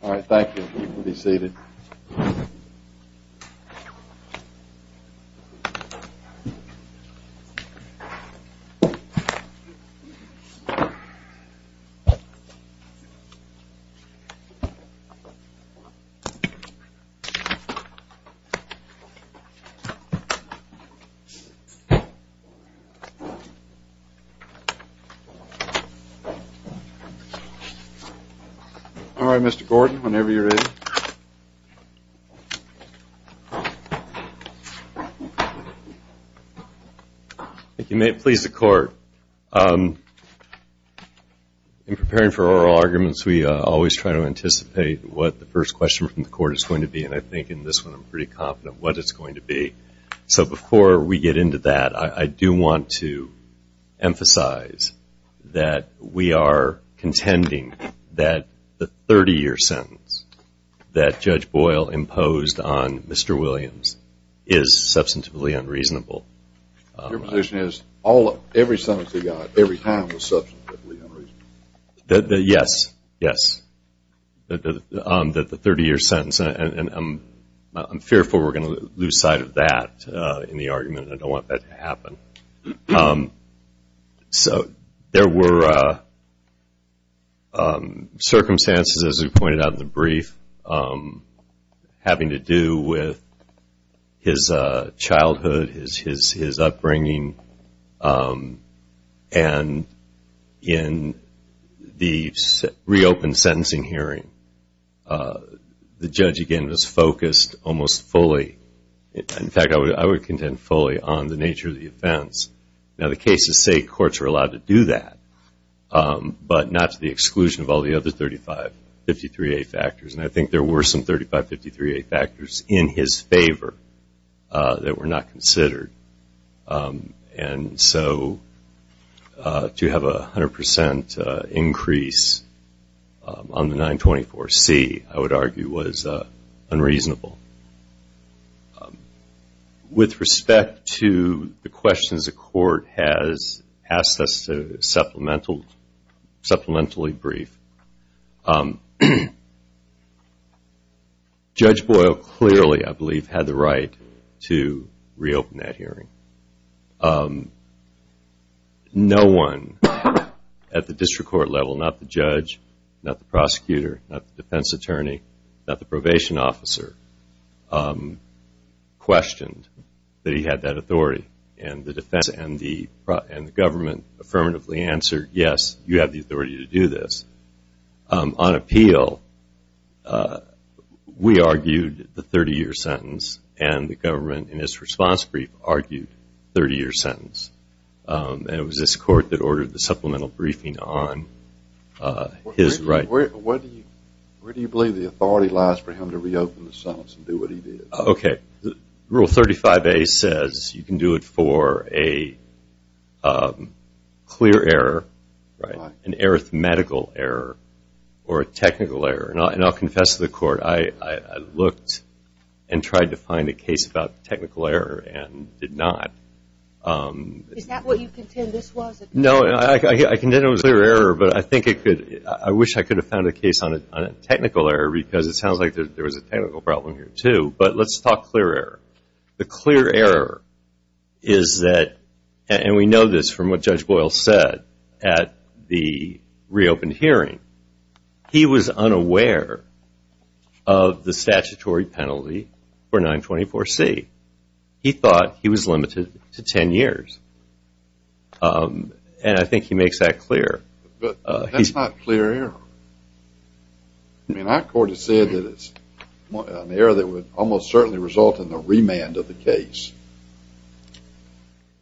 All right, thank you. You can be seated. All right, Mr. Gordon, whenever you're ready. Thank you. May it please the court. In preparing for oral arguments, we always try to anticipate what the first question from the court is going to be, and I think in this one I'm pretty confident what it's going to be. So before we get into that, I do want to emphasize that we are contending that the 30-year sentence that Judge Boyle imposed on Mr. Williams is substantively unreasonable. Your position is, every sentence we got, every time was substantively unreasonable? Yes, yes. That the 30-year sentence, and I'm fearful we're going to lose sight of that in the argument, and I don't want that to happen. So there were circumstances, as we pointed out in the brief, having to do with his childhood, his In fact, I would contend fully on the nature of the offense. Now, the cases say courts are allowed to do that, but not to the exclusion of all the other 3553A factors, and I think there were some 3553A factors in his favor that were not considered. And so to have a 100% increase on the 924C, I would argue, was unreasonable. With respect to the questions the court has asked us to supplementally brief, Judge Boyle clearly, I believe, had the right to reopen that hearing. No one at the district court level, not the judge, not the prosecutor, not the defense attorney, not the probation officer, questioned that he had that authority. And the government affirmatively answered, yes, you have the authority to do this. On his response brief, argued 30-year sentence. And it was this court that ordered the supplemental briefing on his right. Where do you believe the authority lies for him to reopen the sentence and do what he did? Okay. Rule 35A says you can do it for a clear error, an arithmetical error, or a technical error. And I'll confess to the court, I looked and tried to find a case about technical error and did not. Is that what you contend this was? No, I contend it was a clear error, but I think it could, I wish I could have found a case on a technical error because it sounds like there was a technical problem here too. But let's talk clear error. The clear error is that, and we know this from what Judge Boyle said at the reopened hearing, he was unaware of the statutory penalty for 924C. He thought he was limited to 10 years. And I think he makes that clear. But that's not clear error. I mean our court has said that it's an error that would almost certainly result in the remand of the case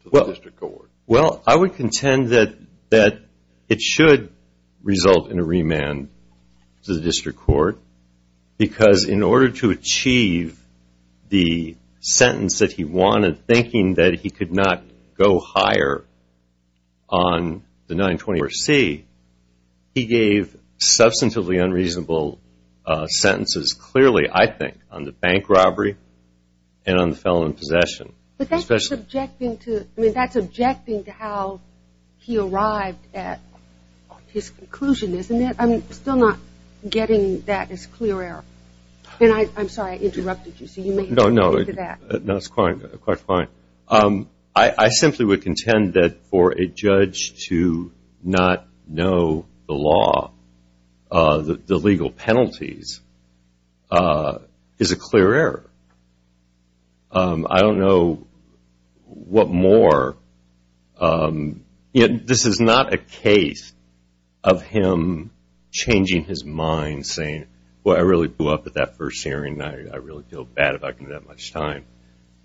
to the district court. Well, I would contend that it should result in a remand to the district court because in order to achieve the sentence that he wanted, thinking that he could not go higher on the 924C, he gave substantively unreasonable sentences clearly, I think, on the bank robbery and on the felon in possession. But that's objecting to, I mean that's objecting to how he arrived at his conclusion, isn't it? I'm still not getting that as clear error. And I'm sorry I interrupted you, so you may have to go back to that. No, it's quite fine. I simply would contend that for a judge to not know the law, the legal penalties, is a clear error. I don't know what more. This is not a case of him changing his mind, saying, well, I really blew up at that first hearing and I really feel bad about giving that much time.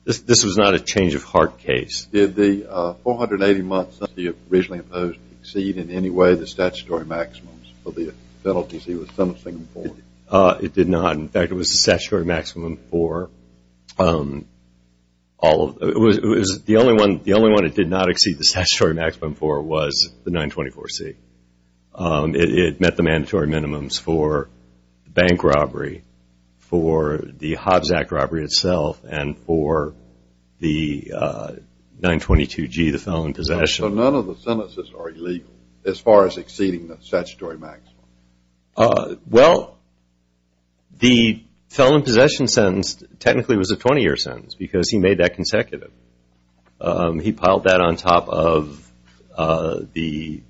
This was not a change of heart case. Did the 480 months that he originally imposed exceed in any way the statutory maximums for the penalties he was sentencing for? It did not. In fact, it was the statutory maximum for all of it. The only one it did not exceed the statutory maximum for was the 924C. It met the mandatory minimums for bank robbery, for the Hobbs Act robbery itself, and for the 922G, the felon in possession. So none of the sentences are illegal as far as exceeding the statutory maximum? Well, the felon in possession sentence technically was a 20-year sentence because he made that consecutive. He piled that on top of the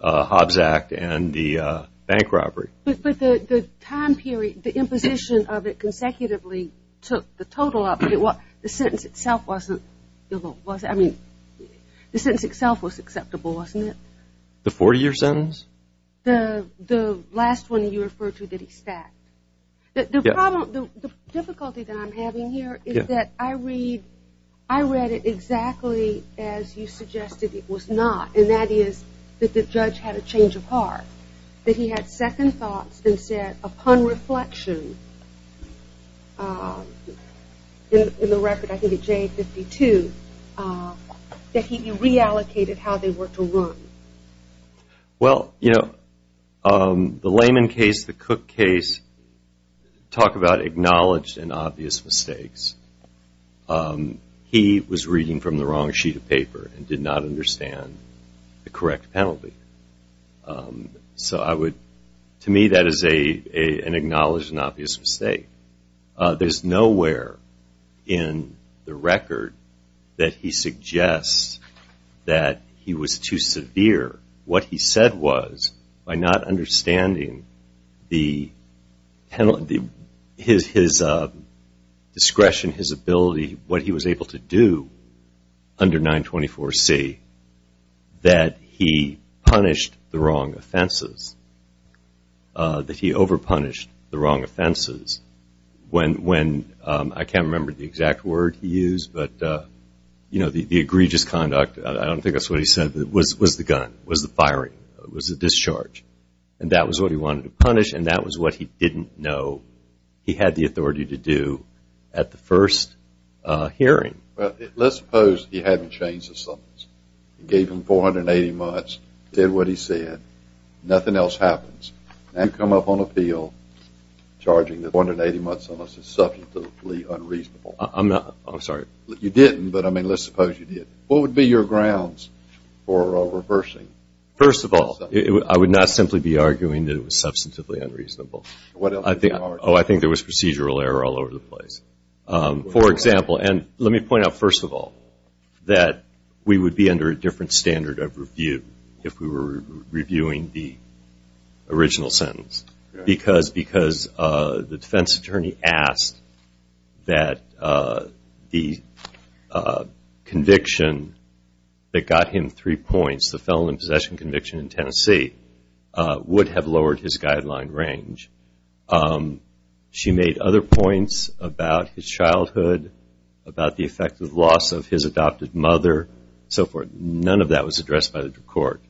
Hobbs Act and the bank robbery. But the time period, the imposition of it consecutively took the total up. The sentence itself wasn't illegal, was it? I mean, the sentence itself was acceptable, wasn't it? The 40-year sentence? The last one you referred to that he stacked. The difficulty that I'm having here is that I read it exactly as you suggested it was not, and that is that the judge had a change of heart. That he had second thoughts and said, upon reflection, in the record, I think it's J52, that he reallocated how they were to run. Well, you know, the Lehman case, the Cook case, talk about acknowledged and obvious mistakes. He was reading from the wrong sheet of paper and did not understand the correct penalty. So I would, to me, that is an acknowledged and obvious mistake. There's nowhere in the what he said was, by not understanding his discretion, his ability, what he was able to do under 924C, that he punished the wrong offenses. That he over-punished the wrong offenses. When, I can't remember the exact word he used, but the egregious conduct, I was the firing, was the discharge. And that was what he wanted to punish and that was what he didn't know he had the authority to do at the first hearing. Let's suppose he hadn't changed the summons. Gave him 480 months, did what he said, nothing else happens. Now you come up on appeal charging that 480 months on a summons is subjectively I'm not, I'm sorry. You didn't, but I mean let's suppose you did. What would be your grounds for reversing? First of all, I would not simply be arguing that it was substantively unreasonable. Oh, I think there was procedural error all over the place. For example, and let me point out first of all, that we would be under a different standard of review if we were reviewing the original sentence. Because the defense attorney asked that the conviction that got him three points, the felon in possession conviction in Tennessee, would have lowered his guideline range. She made other points about his childhood, about the effect of loss of his adopted mother, so forth. None of that was addressed by the court.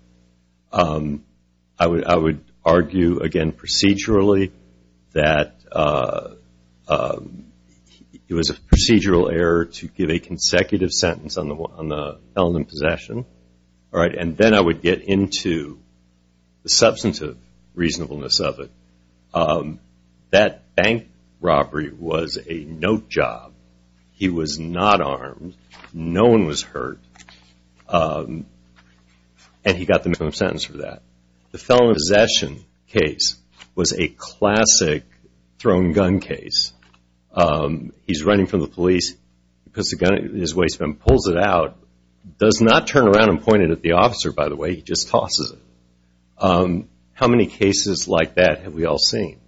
I would argue again procedurally that it was a procedural error to give a consecutive sentence on the felon in possession. And then I would get into the substantive reasonableness of it. That bank robbery was a note job. He was not armed. No one was hurt. And he got the minimum sentence for that. The felon in possession case was a classic thrown gun case. He's running from the police, puts the gun in his waistband, pulls it out, does not turn around and point it at the officer, by the way, he just tosses it. How many cases like that have we all seen?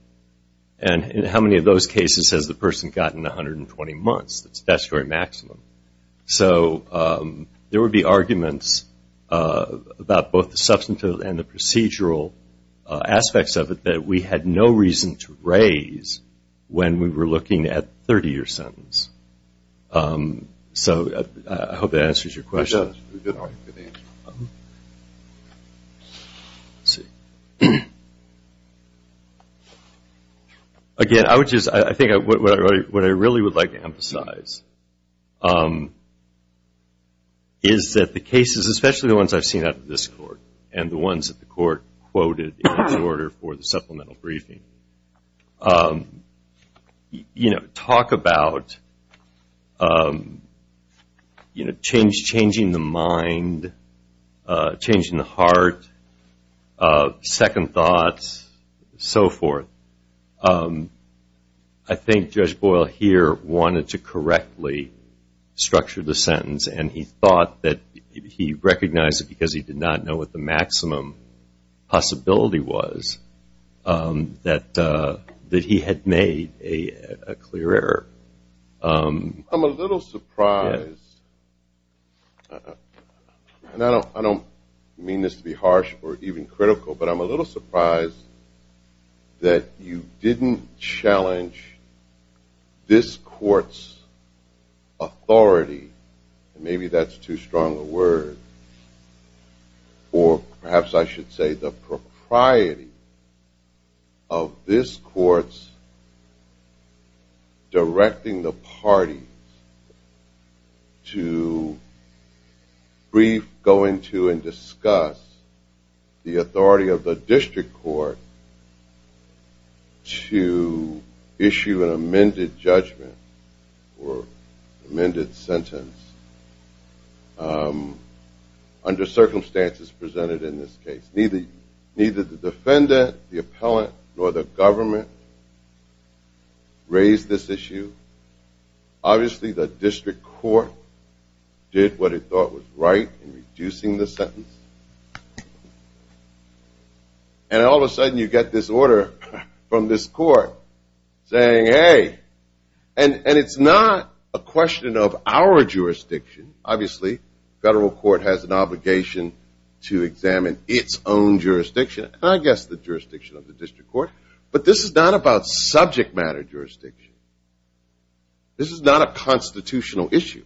And in how many of those cases has the person gotten 120 months? That's the maximum. So there would be arguments about both the substantive and the procedural aspects of it that we had no reason to raise when we were looking at the 30-year sentence. So I hope that answers your question. I think what I really would like to emphasize is that the cases, especially the ones I've seen out of this court and the ones that the court quoted in its order for the supplemental briefing, talk about changing the mind, changing the heart, second thoughts, so forth. I think Judge Boyle here wanted to correctly structure the sentence and he thought that he recognized it because he did not know what the maximum possibility was that he had made a clear error. I'm a little surprised, and I don't mean this to be harsh or even critical, but I'm a little surprised that you didn't challenge this court's authority, and maybe that's too strong a word, or perhaps I should say the propriety of this court's directing the parties to brief, go into, and discuss the authority of the district court to issue an amended judgment or amended sentence under circumstances presented in this case. Neither the defendant, the appellant, nor the government raised this issue. Obviously, the district court did what it thought was right in reducing the sentence, and all of a sudden you get this order from this court saying, hey, and it's not a question of our jurisdiction. Obviously, federal court has an obligation to examine its own jurisdiction, and I guess the jurisdiction of the district court, but this is not about subject matter jurisdiction. This is not a constitutional issue.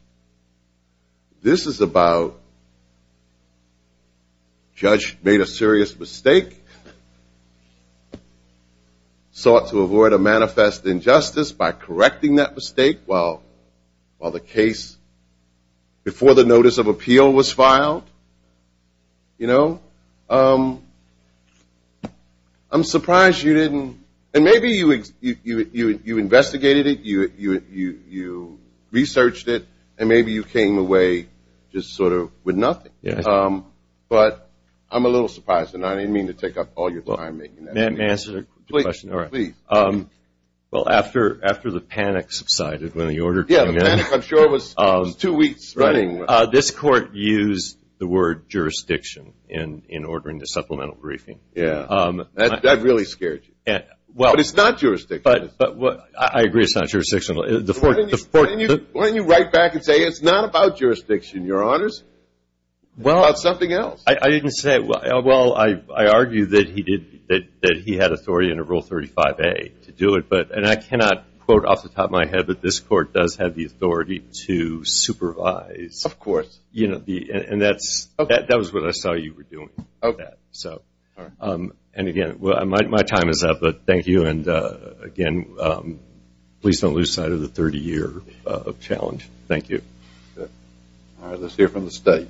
This is about judge made a serious mistake, sought to avoid a manifest injustice by correcting that mistake while the case before the notice of appeal was filed. I'm surprised you didn't, and maybe you investigated it, you researched it, and maybe you came away just sort of with nothing, but I'm a little surprised, and I didn't mean to take up all your time. May I answer a question? Well, after the panic subsided when the order came in, this court used the word jurisdiction in ordering the supplemental briefing. That really scared you, but it's not jurisdictional. I agree it's not jurisdictional. Why don't you write back and say it's not about jurisdiction, your honors. It's about something else. I didn't say it. Well, I argue that he had authority under rule 35a to do it, but I cannot quote off the top of my head, but this court does have the authority to supervise. Of course. That was what I saw you were doing. Again, my time is up, but thank you, and again, please don't lose sight of the 30-year challenge. Thank you. All right, let's hear from the state.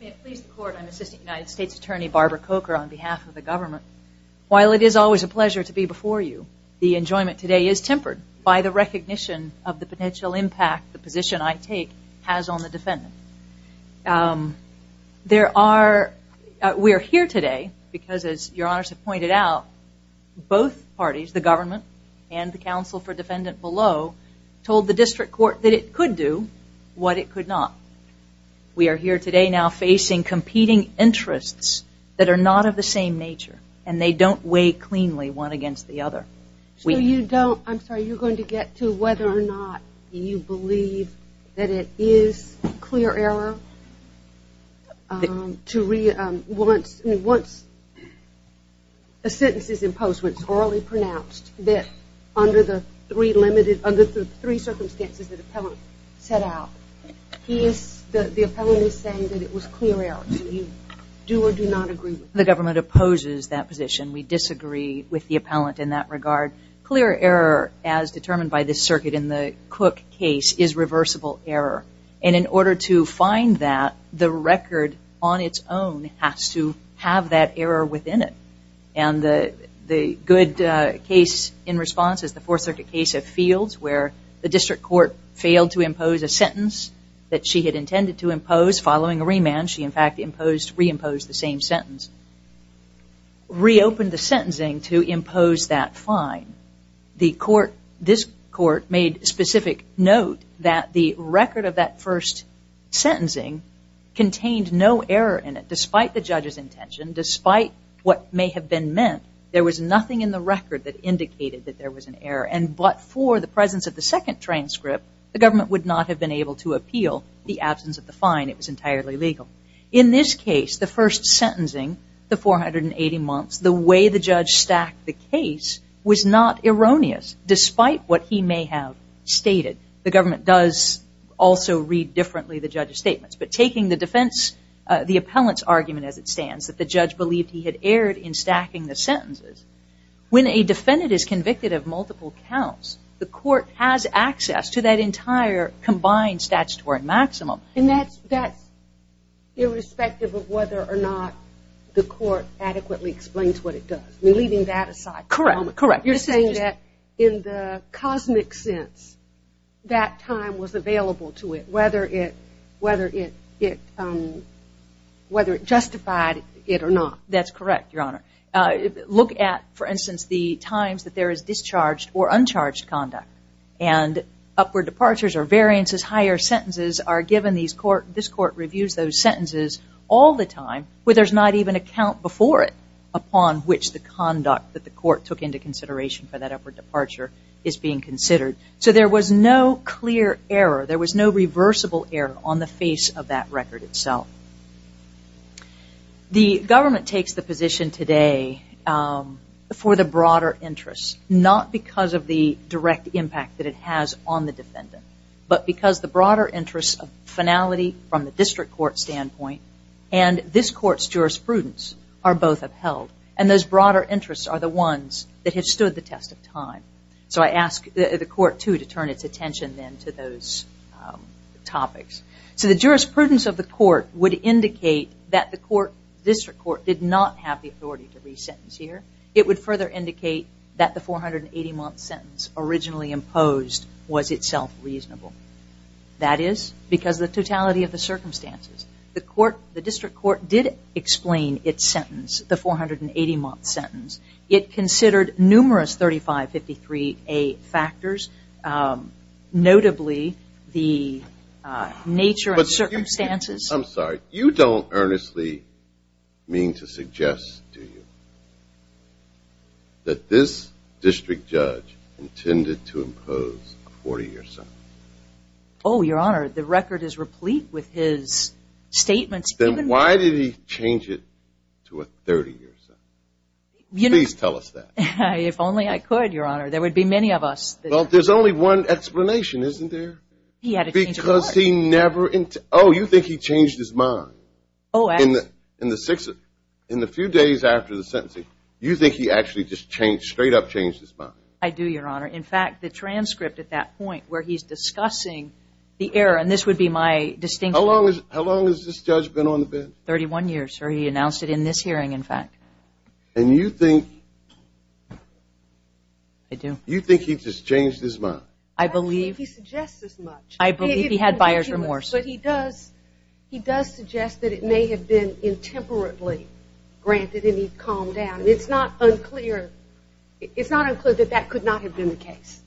May it please the court, I'm Assistant United States Attorney Barbara Coker on behalf of the government. While it is always a pleasure to be before you, the enjoyment today is tempered by the recognition of the potential impact the position I take has on the defendant. There are, we are here today because as your honors have pointed out, both parties, the government and the counsel for defendant below told the district court that it could do what it could not. We are here today now facing competing interests that are not of the same nature, and they don't weigh cleanly one against the other. So you don't, I'm sorry, you're going to get to whether or not you believe that it is clear error once a sentence is imposed, orally pronounced, that under the three limited, under the three circumstances that appellant set out, he is, the appellant is saying that it was clear error. Do you do or do not agree? The government opposes that position. We disagree with the appellant in that regard. Clear error as determined by this circuit in the Cook case is reversible error, and in order to good case in response is the Fourth Circuit case of Fields where the district court failed to impose a sentence that she had intended to impose following a remand. She, in fact, imposed, reimposed the same sentence. Reopened the sentencing to impose that fine. The court, this court made specific note that the record of that first sentencing contained no error in it, despite what may have been meant. There was nothing in the record that indicated that there was an error, and but for the presence of the second transcript, the government would not have been able to appeal the absence of the fine. It was entirely legal. In this case, the first sentencing, the 480 months, the way the judge stacked the case was not erroneous, despite what he may have stated. The government does also read differently the judge's statements, but taking the appellant's argument as it stands, that the judge believed he had erred in stacking the sentences. When a defendant is convicted of multiple counts, the court has access to that entire combined statutory maximum. And that's, that's irrespective of whether or not the court adequately explains what it does. We're leaving that aside. Correct, correct. You're saying that in the cosmic sense that time was available to it, whether it, whether it, it, whether it justified it or not. That's correct, your honor. Look at, for instance, the times that there is discharged or uncharged conduct, and upward departures or variances, higher sentences are given. These court, this court reviews those sentences all the time where there's not even a count before it upon which the conduct that the court took into consideration for that upward departure is being considered. So there was no clear error. There was no reversible error on the face of that record itself. The government takes the position today for the broader interests, not because of the direct impact that it has on the defendant, but because the broader interests of finality from the district court standpoint and this court's jurisprudence are both upheld. And those broader interests are the ones that have stood the test of time. So I ask the court, too, to turn its attention then to those topics. So the jurisprudence of the court would indicate that the court, district court, did not have the authority to re-sentence here. It would further indicate that the 480-month sentence originally imposed was itself reasonable. That is because of the totality of the circumstances. The court, the district court, did explain its sentence, the 480-month sentence. It considered numerous 3553A factors, notably the nature of circumstances. I'm sorry, you don't earnestly mean to suggest, do you, that this district judge intended to impose a 40-year sentence? Oh, Your Honor, the record is replete with his statements. Then why did he change it to a 30-year sentence? Please tell us that. If only I could, Your Honor. There would be many of us. Well, there's only one explanation, isn't there? He had to change his mind. Because he never, oh, you think he changed his mind? Oh, actually. In the few days after the sentencing, you think he actually just changed, straight up changed his mind? I do, Your Honor. In fact, the transcript at that point, where he's discussing the error, and this would be my distinction. How long has this judge been on the bench? Thirty-one years, sir. He announced it in this hearing, in fact. And you think he just changed his mind? I believe he had buyer's remorse. But he does suggest that it may have been intemperately granted, and he calmed down. And it's not unclear that that could not have been the case.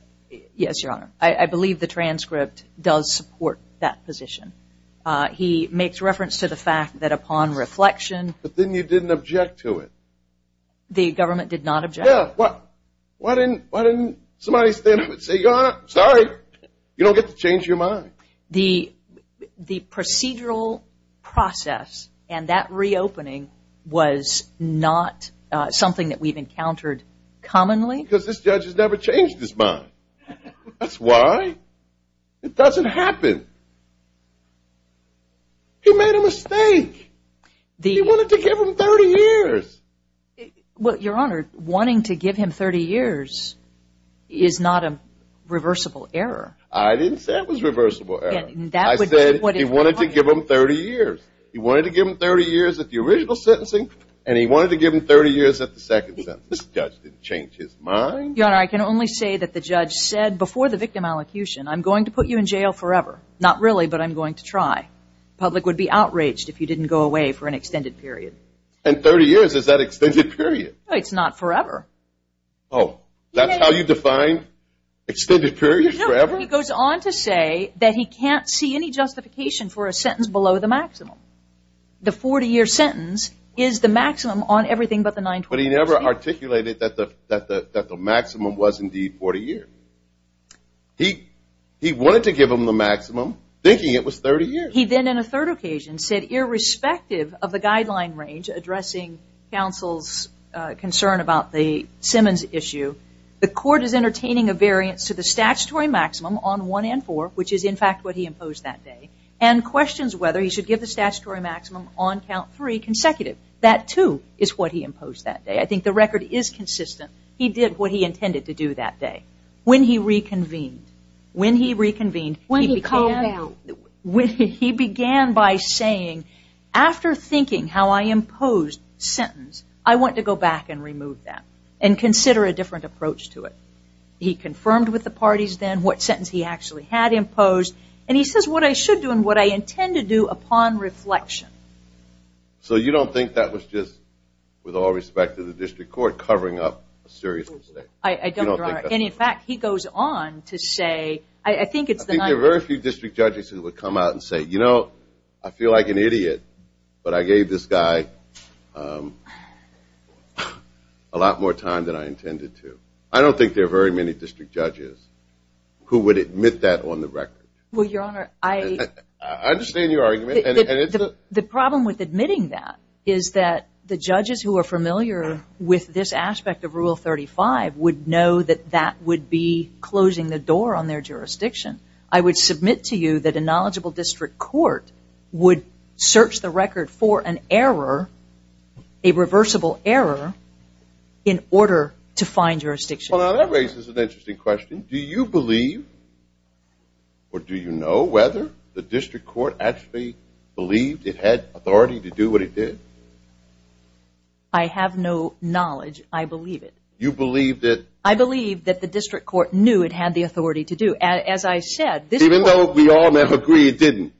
Yes, Your Honor. I believe the transcript does support that position. He makes reference to the fact that upon reflection. But then you didn't object to it. The government did not object? Yeah. Why didn't somebody stand up and say, Your Honor, I'm sorry. You don't get to change your mind. The procedural process and that reopening was not something that we've encountered commonly. Because this judge has never changed his mind. That's why. It doesn't happen. He made a mistake. He wanted to give him thirty years. Well, Your Honor, wanting to give him thirty years is not a reversible error. I didn't say it was a reversible error. I said he wanted to give him thirty years. He wanted to give him thirty years at the original sentencing, and he wanted to give him thirty years at the second sentence. This judge didn't change his mind. Your Honor, I can only say that the judge said before the victim allocution, I'm going to put you in jail forever. Not really, but I'm going to try. The public would be outraged if you didn't go away for an extended period. And thirty years is that extended period? It's not forever. Oh, that's how you define extended period? No, he goes on to say that he can't see any justification for a sentence below the maximum. The forty-year sentence is the maximum on everything but the 9-12. But he never articulated that the maximum was indeed forty years. He wanted to give him the maximum, thinking it was thirty years. He then, in a third occasion, said, irrespective of the guideline range addressing counsel's concern about the Simmons issue, the court is entertaining a variance to the statutory maximum on one and four, which is in fact what he imposed that day, and questions whether he should give the statutory maximum on count three consecutive. That, too, is what he imposed that day. I think the record is consistent. He did what he intended to do that day. When he reconvened, he began by saying, after thinking how I imposed sentence, I want to go back and remove that and consider a different approach to it. He confirmed with the parties then what sentence he actually had imposed, and he says what I should do and what I intend to do upon reflection. So you don't think that was just, with all respect to the district court, covering up a serious mistake? I don't, Your Honor. In fact, he goes on to say, I think it's the 9-12. There are very few district judges who would come out and say, you know, I feel like an idiot, but I gave this guy a lot more time than I intended to. I don't think there are very many district judges who would admit that on the record. Well, Your Honor, the problem with admitting that is that the judges who are familiar with this aspect of Rule 35 would know that that would be closing the door on their jurisdiction. I would submit to you that a knowledgeable district court would search the record for an error, a reversible error, in order to find jurisdiction. That raises an interesting question. Do you believe, or do you know, whether the district court actually believed it had authority to do what it did? I have no knowledge. I believe it. You believe that? I believe that the district court knew it had the authority to do, as I said. Even though we all never agreed it didn't?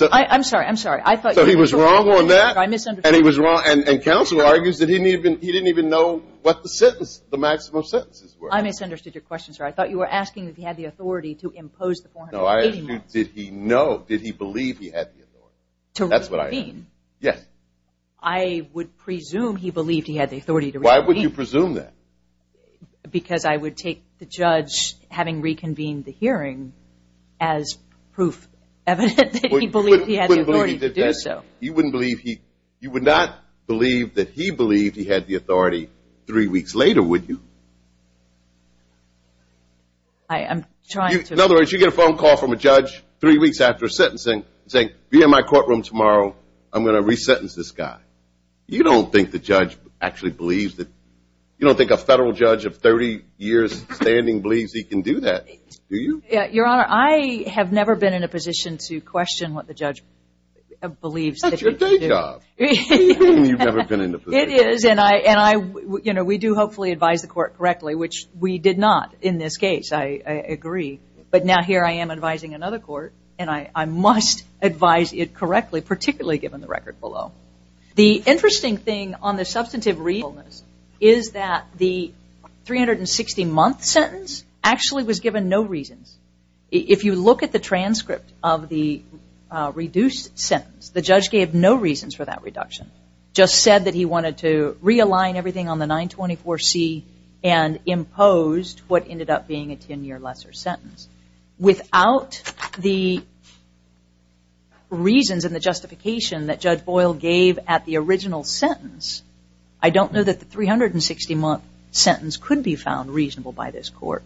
I'm sorry. I'm sorry. So he was wrong on that, and he was wrong, and counsel argues that he didn't even know what the maximum sentences were. I misunderstood your question, sir. I thought you were asking if he had the authority to impose the 480 marks. No, I didn't. Did he know? Did he believe he had the authority? To reconvene? Yes. I would presume he believed he had the authority to reconvene. Why would you presume that? Because I would take the judge having reconvened the hearing as proof evident that he believed he had the authority to do so. You wouldn't believe he, you would not believe that he believed he had the authority three weeks later, would you? I am trying to. In other words, you get a phone call from a judge three weeks after sentencing saying, be in my courtroom tomorrow, I'm going to resentence this guy. You don't think the judge actually believes that, you don't think a federal judge of 30 years standing believes he can do that, do you? Your Honor, I have never been in a position to question what the judge believes. That's your day job. You've never been in a position. It is, and I, and I, you know, we do hopefully advise the court correctly, which we did not in this case, I agree. But now here I am advising another court, and I must advise it correctly, particularly given the record below. The interesting thing on the substantive reasonableness is that the 360-month sentence actually was given no reasons. If you look at the transcript of the reduced sentence, the judge gave no reasons for that reduction, just said that he wanted to realign everything on the 924C and imposed what ended up being a 10-year lesser sentence. Without the reasons and the justification that Judge Boyle gave at the original sentence, I don't know that the 360-month sentence could be found reasonable by this court.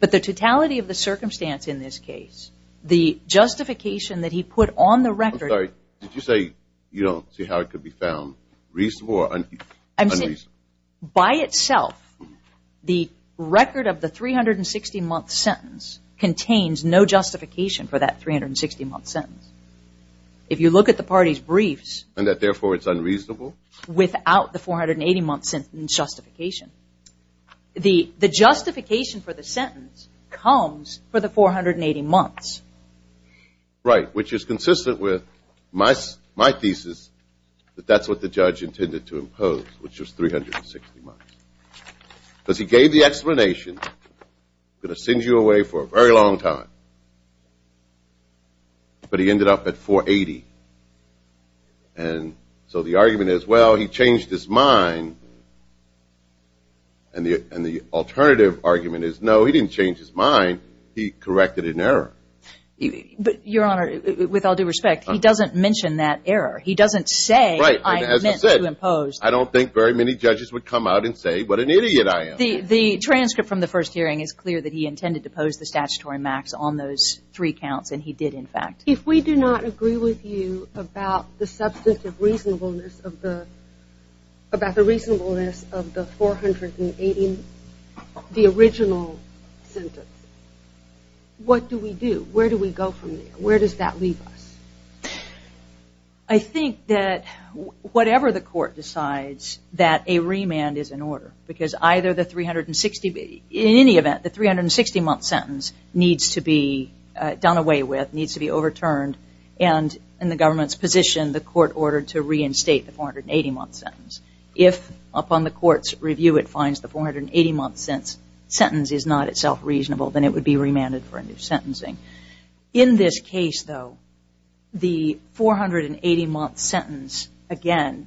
But the totality of the circumstance in this case, the justification that he put on the record... I'm sorry, did you say you don't see how it could be found reasonable or unreasonable? By itself, the record of the 360-month sentence contains no justification for that 360-month sentence. If you look at the party's briefs... And that therefore it's unreasonable? Without the 480-month sentence justification. The justification for the sentence comes for the 480 months. Right, which is consistent with my thesis that that's what the judge intended to impose, which was 360 months. Because he gave the explanation, I'm going to send you away for a very long time, but he ended up at 480. And so the argument is, well, he changed his mind. And the alternative argument is, no, he didn't change his mind. He corrected an error. Your Honor, with all due respect, he doesn't mention that error. He doesn't say, I meant to impose. I don't think very many judges would come out and say, what an idiot I am. The transcript from the first hearing is clear that he intended to pose the statutory max on those three counts, and he did, in fact. If we do not agree with you about the substantive reasonableness of the, about the reasonableness of the 480, the original sentence, what do we do? Where do we go from there? Where does that leave us? I think that whatever the court decides, that a remand is in order. Because either the 360, in any event, the 360-month sentence needs to be done away with, needs to be overturned. And in the government's position, the court ordered to reinstate the 480-month sentence. If, upon the court's review, it finds the 480-month sentence is not itself reasonable, then it would be remanded for a new sentencing. In this case, though, the 480-month sentence, again,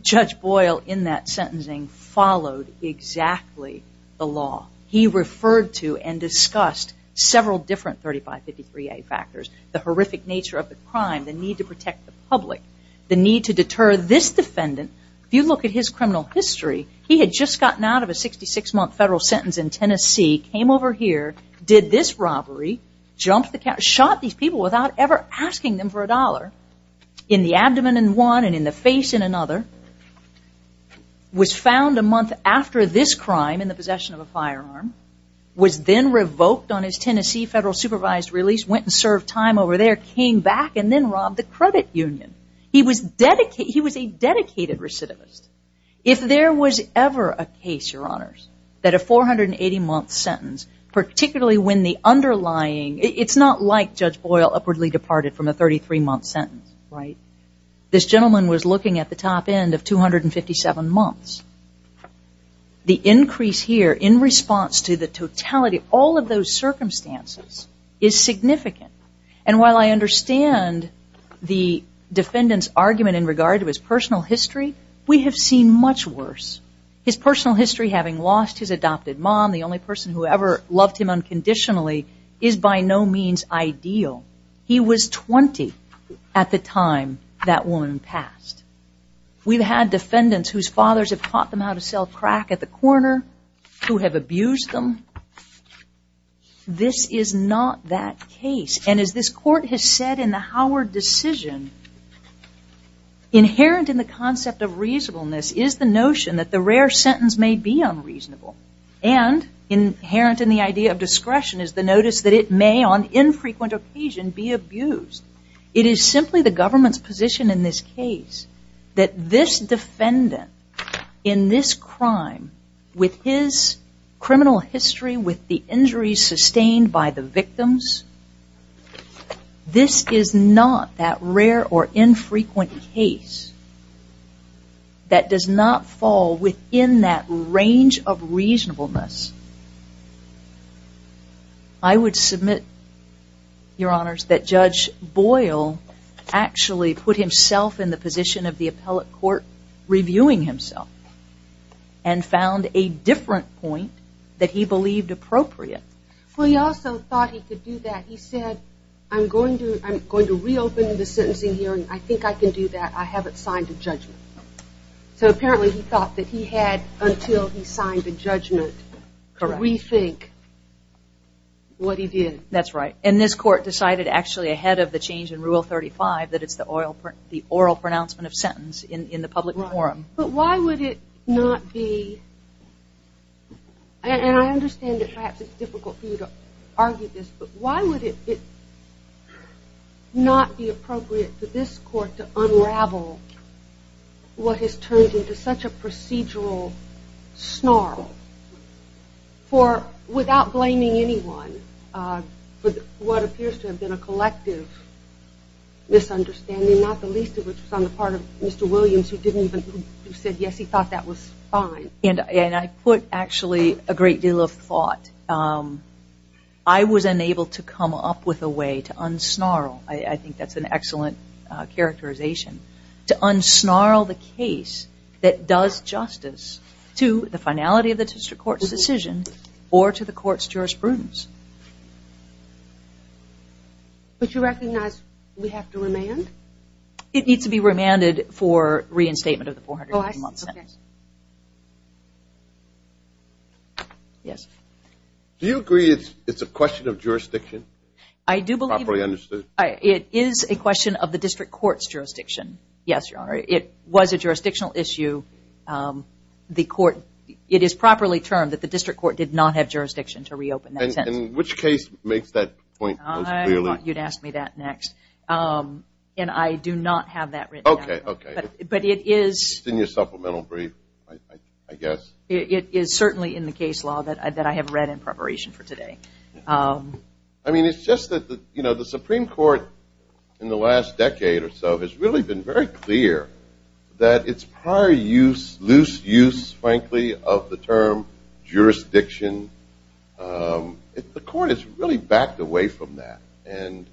Judge Boyle, in that sentencing, followed exactly the law. He referred to and discussed several different 3553A factors, the horrific nature of the crime, the need to protect the public, the need to deter this defendant. If you look at his criminal history, he had just gotten out of a 66-month federal sentence in Tennessee, came over here, did this robbery, jumped the, shot these people without ever asking them for a dollar, in the abdomen in one and in the face in another, was found a month after this crime in the possession of a firearm, was then revoked on his Tennessee federal supervised release, went and served time over there, came back, and then robbed the credit union. He was dedicated, he was a dedicated recidivist. If there was ever a case, Your Honors, that a 480-month sentence, particularly when the underlying, it's not like Judge Boyle upwardly departed from a 33-month sentence, right? This gentleman was looking at the top end of 257 months. The increase here in response to the totality, all of those circumstances is significant. And while I understand the defendant's argument in regard to his personal history, we have seen much worse. His personal history, having lost his adopted mom, the only person who ever loved him unconditionally, is by no means ideal. He was 20 at the time that woman passed. We've had defendants whose fathers have taught them how to sell crack at the corner, who have abused them. This is not that case. And as this court has said in the Howard decision, inherent in the concept of reasonableness is the notion that the rare sentence may be unreasonable. And inherent in the idea of discretion is the notice that it may, on infrequent occasion, be abused. It is simply the government's position in this case that this defendant in this crime, with his criminal history, with the injuries sustained by the victims, this is not that rare or infrequent case that does not fall within that range of reasonableness. I would submit, Your Honors, that Judge Boyle actually put himself in the position of the appellate court reviewing himself and found a different point that he believed appropriate. Well, he also thought he could do that. He said, I'm going to reopen the sentencing hearing. I think I can do that. I haven't signed a judgment. So apparently he thought that he had until he signed the judgment to rethink what he did. That's right. And this court decided actually ahead of the change in Rule 35 that it's the oral pronouncement of sentence in the public forum. But why would it not be, and I understand that perhaps it's difficult for you to argue this, but why would it not be appropriate for this court to unravel what has turned into such a procedural snarl for, without blaming anyone, for what appears to have been a collective misunderstanding, not the least of which was on the part of Mr. Williams, who said, yes, he thought that was fine. And I put actually a great deal of thought. I was unable to come up with a way to unsnarl, I think that's an excellent characterization, to unsnarl the case that does justice to the finality of the district court's decision or to the court's jurisprudence. But you recognize we have to remand? It needs to be remanded for reinstatement of the $400,000 sentence. Yes. Do you agree it's a question of jurisdiction? I do believe. Properly understood. It is a question of the district court's jurisdiction. Yes, Your Honor. It was a jurisdictional issue. The court, it is properly termed that the district court did not have jurisdiction to reopen that sentence. In which case makes that point as clearly? You'd ask me that next. And I do not have that written down. OK, OK. But it is. It's in your supplemental brief, I guess. It is certainly in the case law that I have read in preparation for today. I mean, it's just that the Supreme Court in the last decade or so has really been very clear that its prior use, loose use, frankly, of the term jurisdiction, the court has really backed away from that. And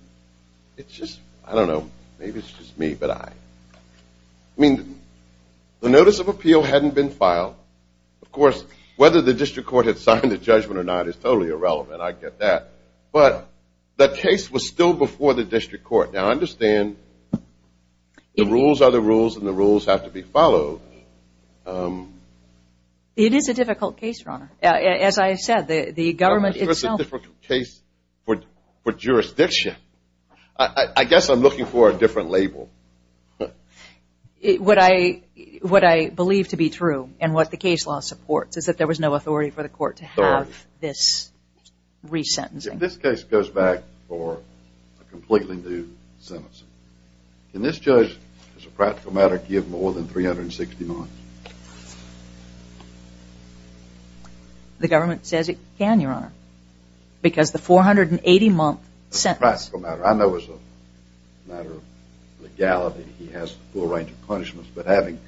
it's just, I don't know, maybe it's just me, but I mean, the notice of appeal hadn't been filed. Of course, whether the district court had signed the judgment or not is totally irrelevant. And I get that. But the case was still before the district court. Now, I understand the rules are the rules, and the rules have to be followed. It is a difficult case, Your Honor. As I said, the government itself. It's a difficult case for jurisdiction. I guess I'm looking for a different label. What I believe to be true, and what the case law supports, is that there was no authority for the court to have this resentencing. If this case goes back for a completely new sentencing, can this judge, as a practical matter, give more than 360 months? The government says it can, Your Honor, because the 480-month sentence. As a practical matter. I know as a matter of legality, he has a full range of punishments. But having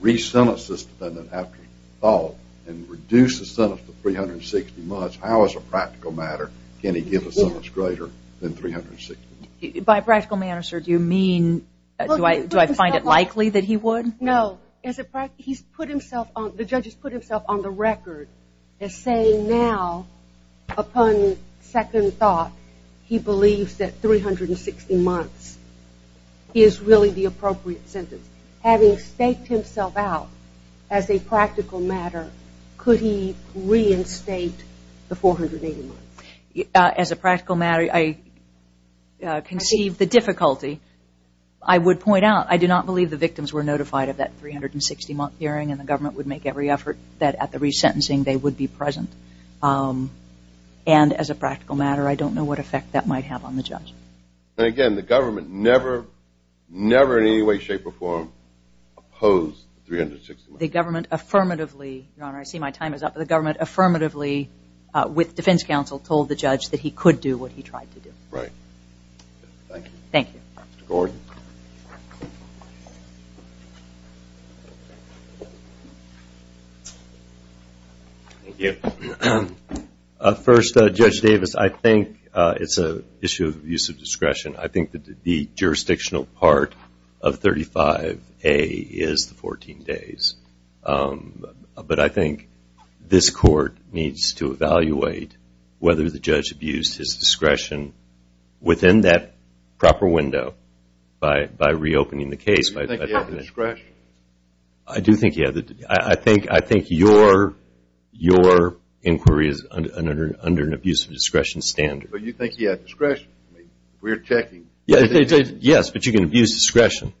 resentenced the defendant after thought, and reduced the sentence to 360 months, how as a practical matter can he give a sentence greater than 360 months? By practical matter, sir, do you mean, do I find it likely that he would? No. The judge has put himself on the record as saying now, upon second thought, he believes that 360 months is really the appropriate sentence. Having staked himself out as a practical matter, could he reinstate the 480 months? As a practical matter, I conceive the difficulty. I would point out, I do not believe the victims were notified of that 360-month hearing, and the government would make every effort that at the resentencing they would be present. Um, and as a practical matter, I don't know what effect that might have on the judge. And again, the government never, never in any way, shape, or form, opposed 360 months. The government affirmatively, Your Honor, I see my time is up, but the government affirmatively with defense counsel told the judge that he could do what he tried to do. Right. Thank you. Thank you. Thank you. Uh, first, uh, Judge Davis, I think, uh, it's a issue of use of discretion. I think that the jurisdictional part of 35A is the 14 days. Um, but I think this court needs to evaluate whether the judge abused his discretion within that proper window by, by reopening the case. Do you think he had the discretion? I do think he had the, I, I think, I think your, your inquiry is under, under, under an abuse of discretion standard. But you think he had discretion? We're checking. Yes, but you can abuse discretion.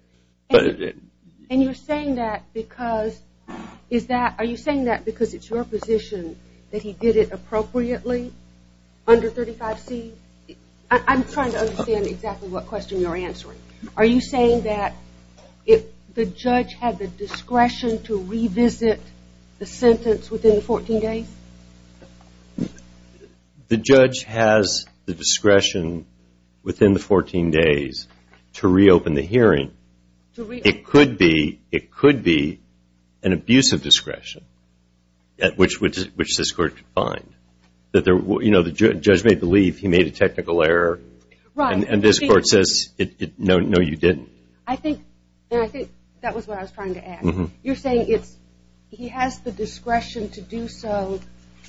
And you're saying that because, is that, are you saying that because it's your position that he did it appropriately under 35C? I, I'm trying to understand exactly what question you're answering. Are you saying that it, the judge had the discretion to revisit the sentence within the 14 days? The judge has the discretion within the 14 days to reopen the hearing. It could be, it could be an abuse of discretion at which, which, which this court could find. That there, you know, the judge may believe he made a technical error. Right. And this court says, no, no, you didn't. I think, and I think that was what I was trying to add. You're saying it's, he has the discretion to do so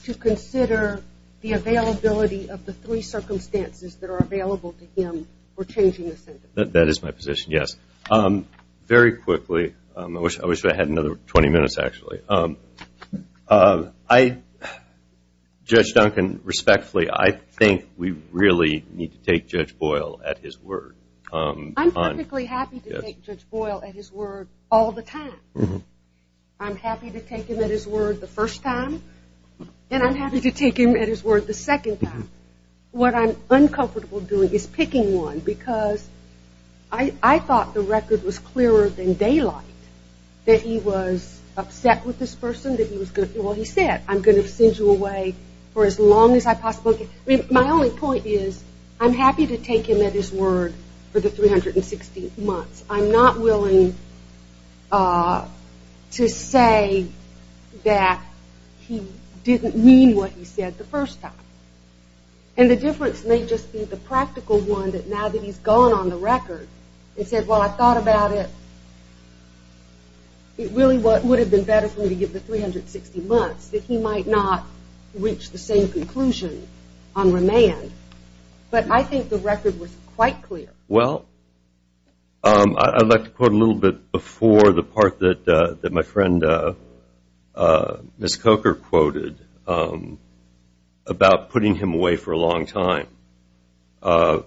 to consider the availability of the three circumstances that are available to him for changing the sentence. That is my position, yes. Very quickly, I wish, I wish I had another 20 minutes, actually. Um, um, I, Judge Duncan, respectfully, I think we really need to take Judge Boyle at his word. I'm perfectly happy to take Judge Boyle at his word all the time. I'm happy to take him at his word the first time, and I'm happy to take him at his word the second time. What I'm uncomfortable doing is picking one because I, I thought the record was clearer than daylight that he was upset with this person, that he was going to, well, he said, I'm going to send you away for as long as I possibly can. I mean, my only point is, I'm happy to take him at his word for the 360 months. I'm not willing, uh, to say that he didn't mean what he said the first time. And the difference may just be the practical one that now that he's gone on the record and said, well, I thought about it, it really would have been better for me to give the 360 months that he might not reach the same conclusion on remand. But I think the record was quite clear. Well, um, I'd like to put a little bit before the part that, uh, that my friend, uh, uh, Miss Coker quoted, um, about putting him away for a long time. Uh,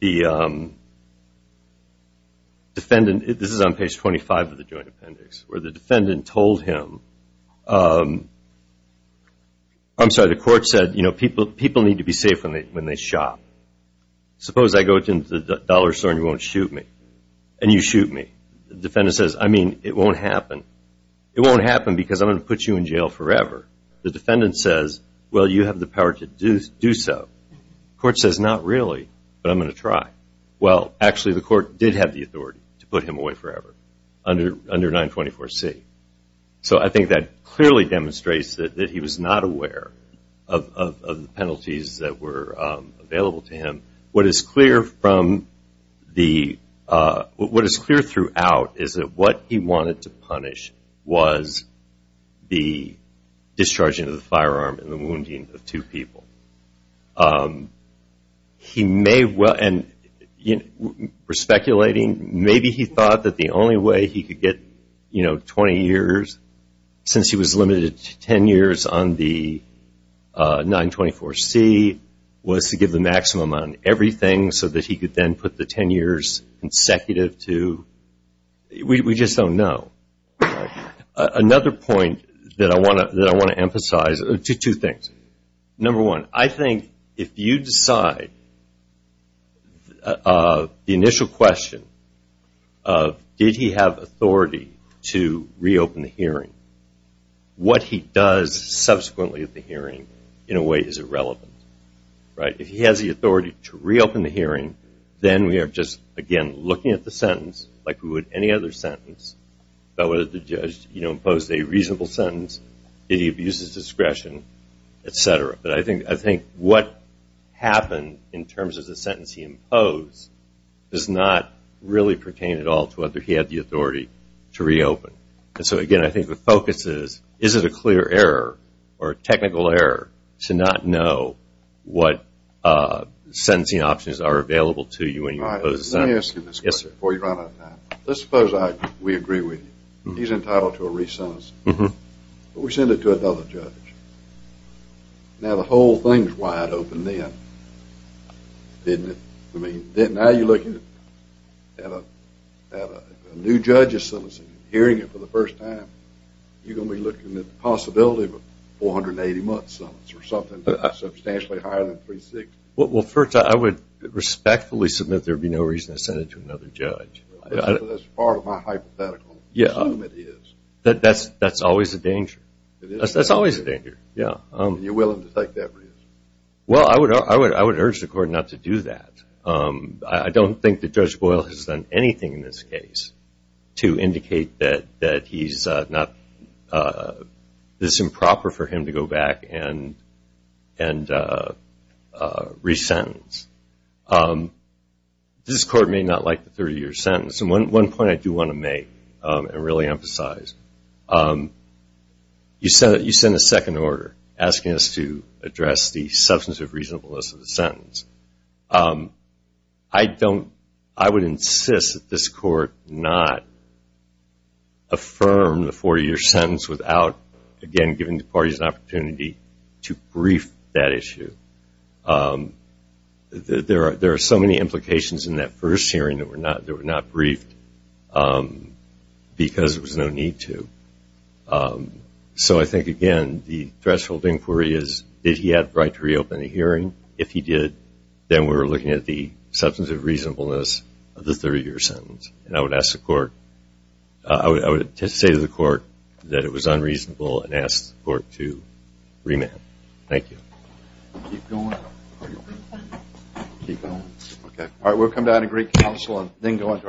the, um, defendant, this is on page 25 of the joint appendix, where the defendant told him, um, I'm sorry, the court said, you know, people, people need to be safe when they, when they shop. Suppose I go to the dollar store and you won't shoot me. And you shoot me. The defendant says, I mean, it won't happen. It won't happen because I'm going to put you in jail forever. The defendant says, well, you have the power to do, do so. The court says, not really, but I'm going to try. Well, actually, the court did have the authority to put him away forever under, under 924C. So I think that clearly demonstrates that, that he was not aware of, of, of the penalties that were, um, available to him. What is clear from the, uh, what is clear throughout is that what he wanted to punish was the discharging of the firearm and the wounding of two people. Um, he may well, and, you know, we're speculating, maybe he thought that the only way he could get, you know, 20 years since he was limited to 10 years on the, uh, 924C was to give the maximum on everything so that he could then put the 10 years consecutive to, we, we just don't know. Another point that I want to, that I want to emphasize, two, two things. Number one, I think if you decide, uh, the initial question of did he have authority to reopen the hearing, what he does subsequently at the hearing in a way is irrelevant, right? If he has the authority to reopen the hearing, then we are just, again, looking at the sentence like we would any other sentence about whether the judge, you know, imposed a reasonable sentence, did he abuse his discretion, et cetera. But I think, I think what happened in terms of the sentence he imposed does not really pertain at all to whether he had the authority to reopen. And so, again, I think the focus is, is it a clear error or a technical error to not know what, uh, sentencing options are available to you when you impose a sentence? Let me ask you this question before you run out of time. Let's suppose I, we agree with you. He's entitled to a re-sentence, but we send it to another judge. Now, the whole thing's wide open then, isn't it? I mean, now you're looking at a, at a new judge's sentencing and hearing it for the first time, you're going to be looking at the possibility of a 480-month sentence or something that's substantially higher than 360. Well, first, I would respectfully submit there'd be no reason to send it to another judge. That's part of my hypothetical. Yeah, that's, that's always a danger. That's always a danger. Yeah. You're willing to take that risk? Well, I would, I would, I would urge the court not to do that. Um, I don't think that Judge Boyle has done anything in this case to indicate that, that he's not, uh, this improper for him to go back and, and, uh, uh, re-sentence. Um, this court may not like the 30-year sentence. And one, one point I do want to make, um, and really emphasize, um, you send, you send a second order asking us to address the substance of reasonableness of the sentence. Um, I don't, I would insist that this court not affirm the 40-year sentence without, again, giving the parties an opportunity to brief that issue. Um, there are, there are so many implications in that first hearing that were not, that were not briefed, um, because there was no need to. Um, so I think, again, the threshold inquiry is, did he have the right to reopen the hearing? If he did, then we're looking at the substance of reasonableness of the 30-year sentence. And I would ask the court, uh, I would, I would say to the court that it was unreasonable and ask the court to remand. Thank you. Keep going. Keep going. Okay. All right. We'll come down to great counsel and then go on to our last pitch.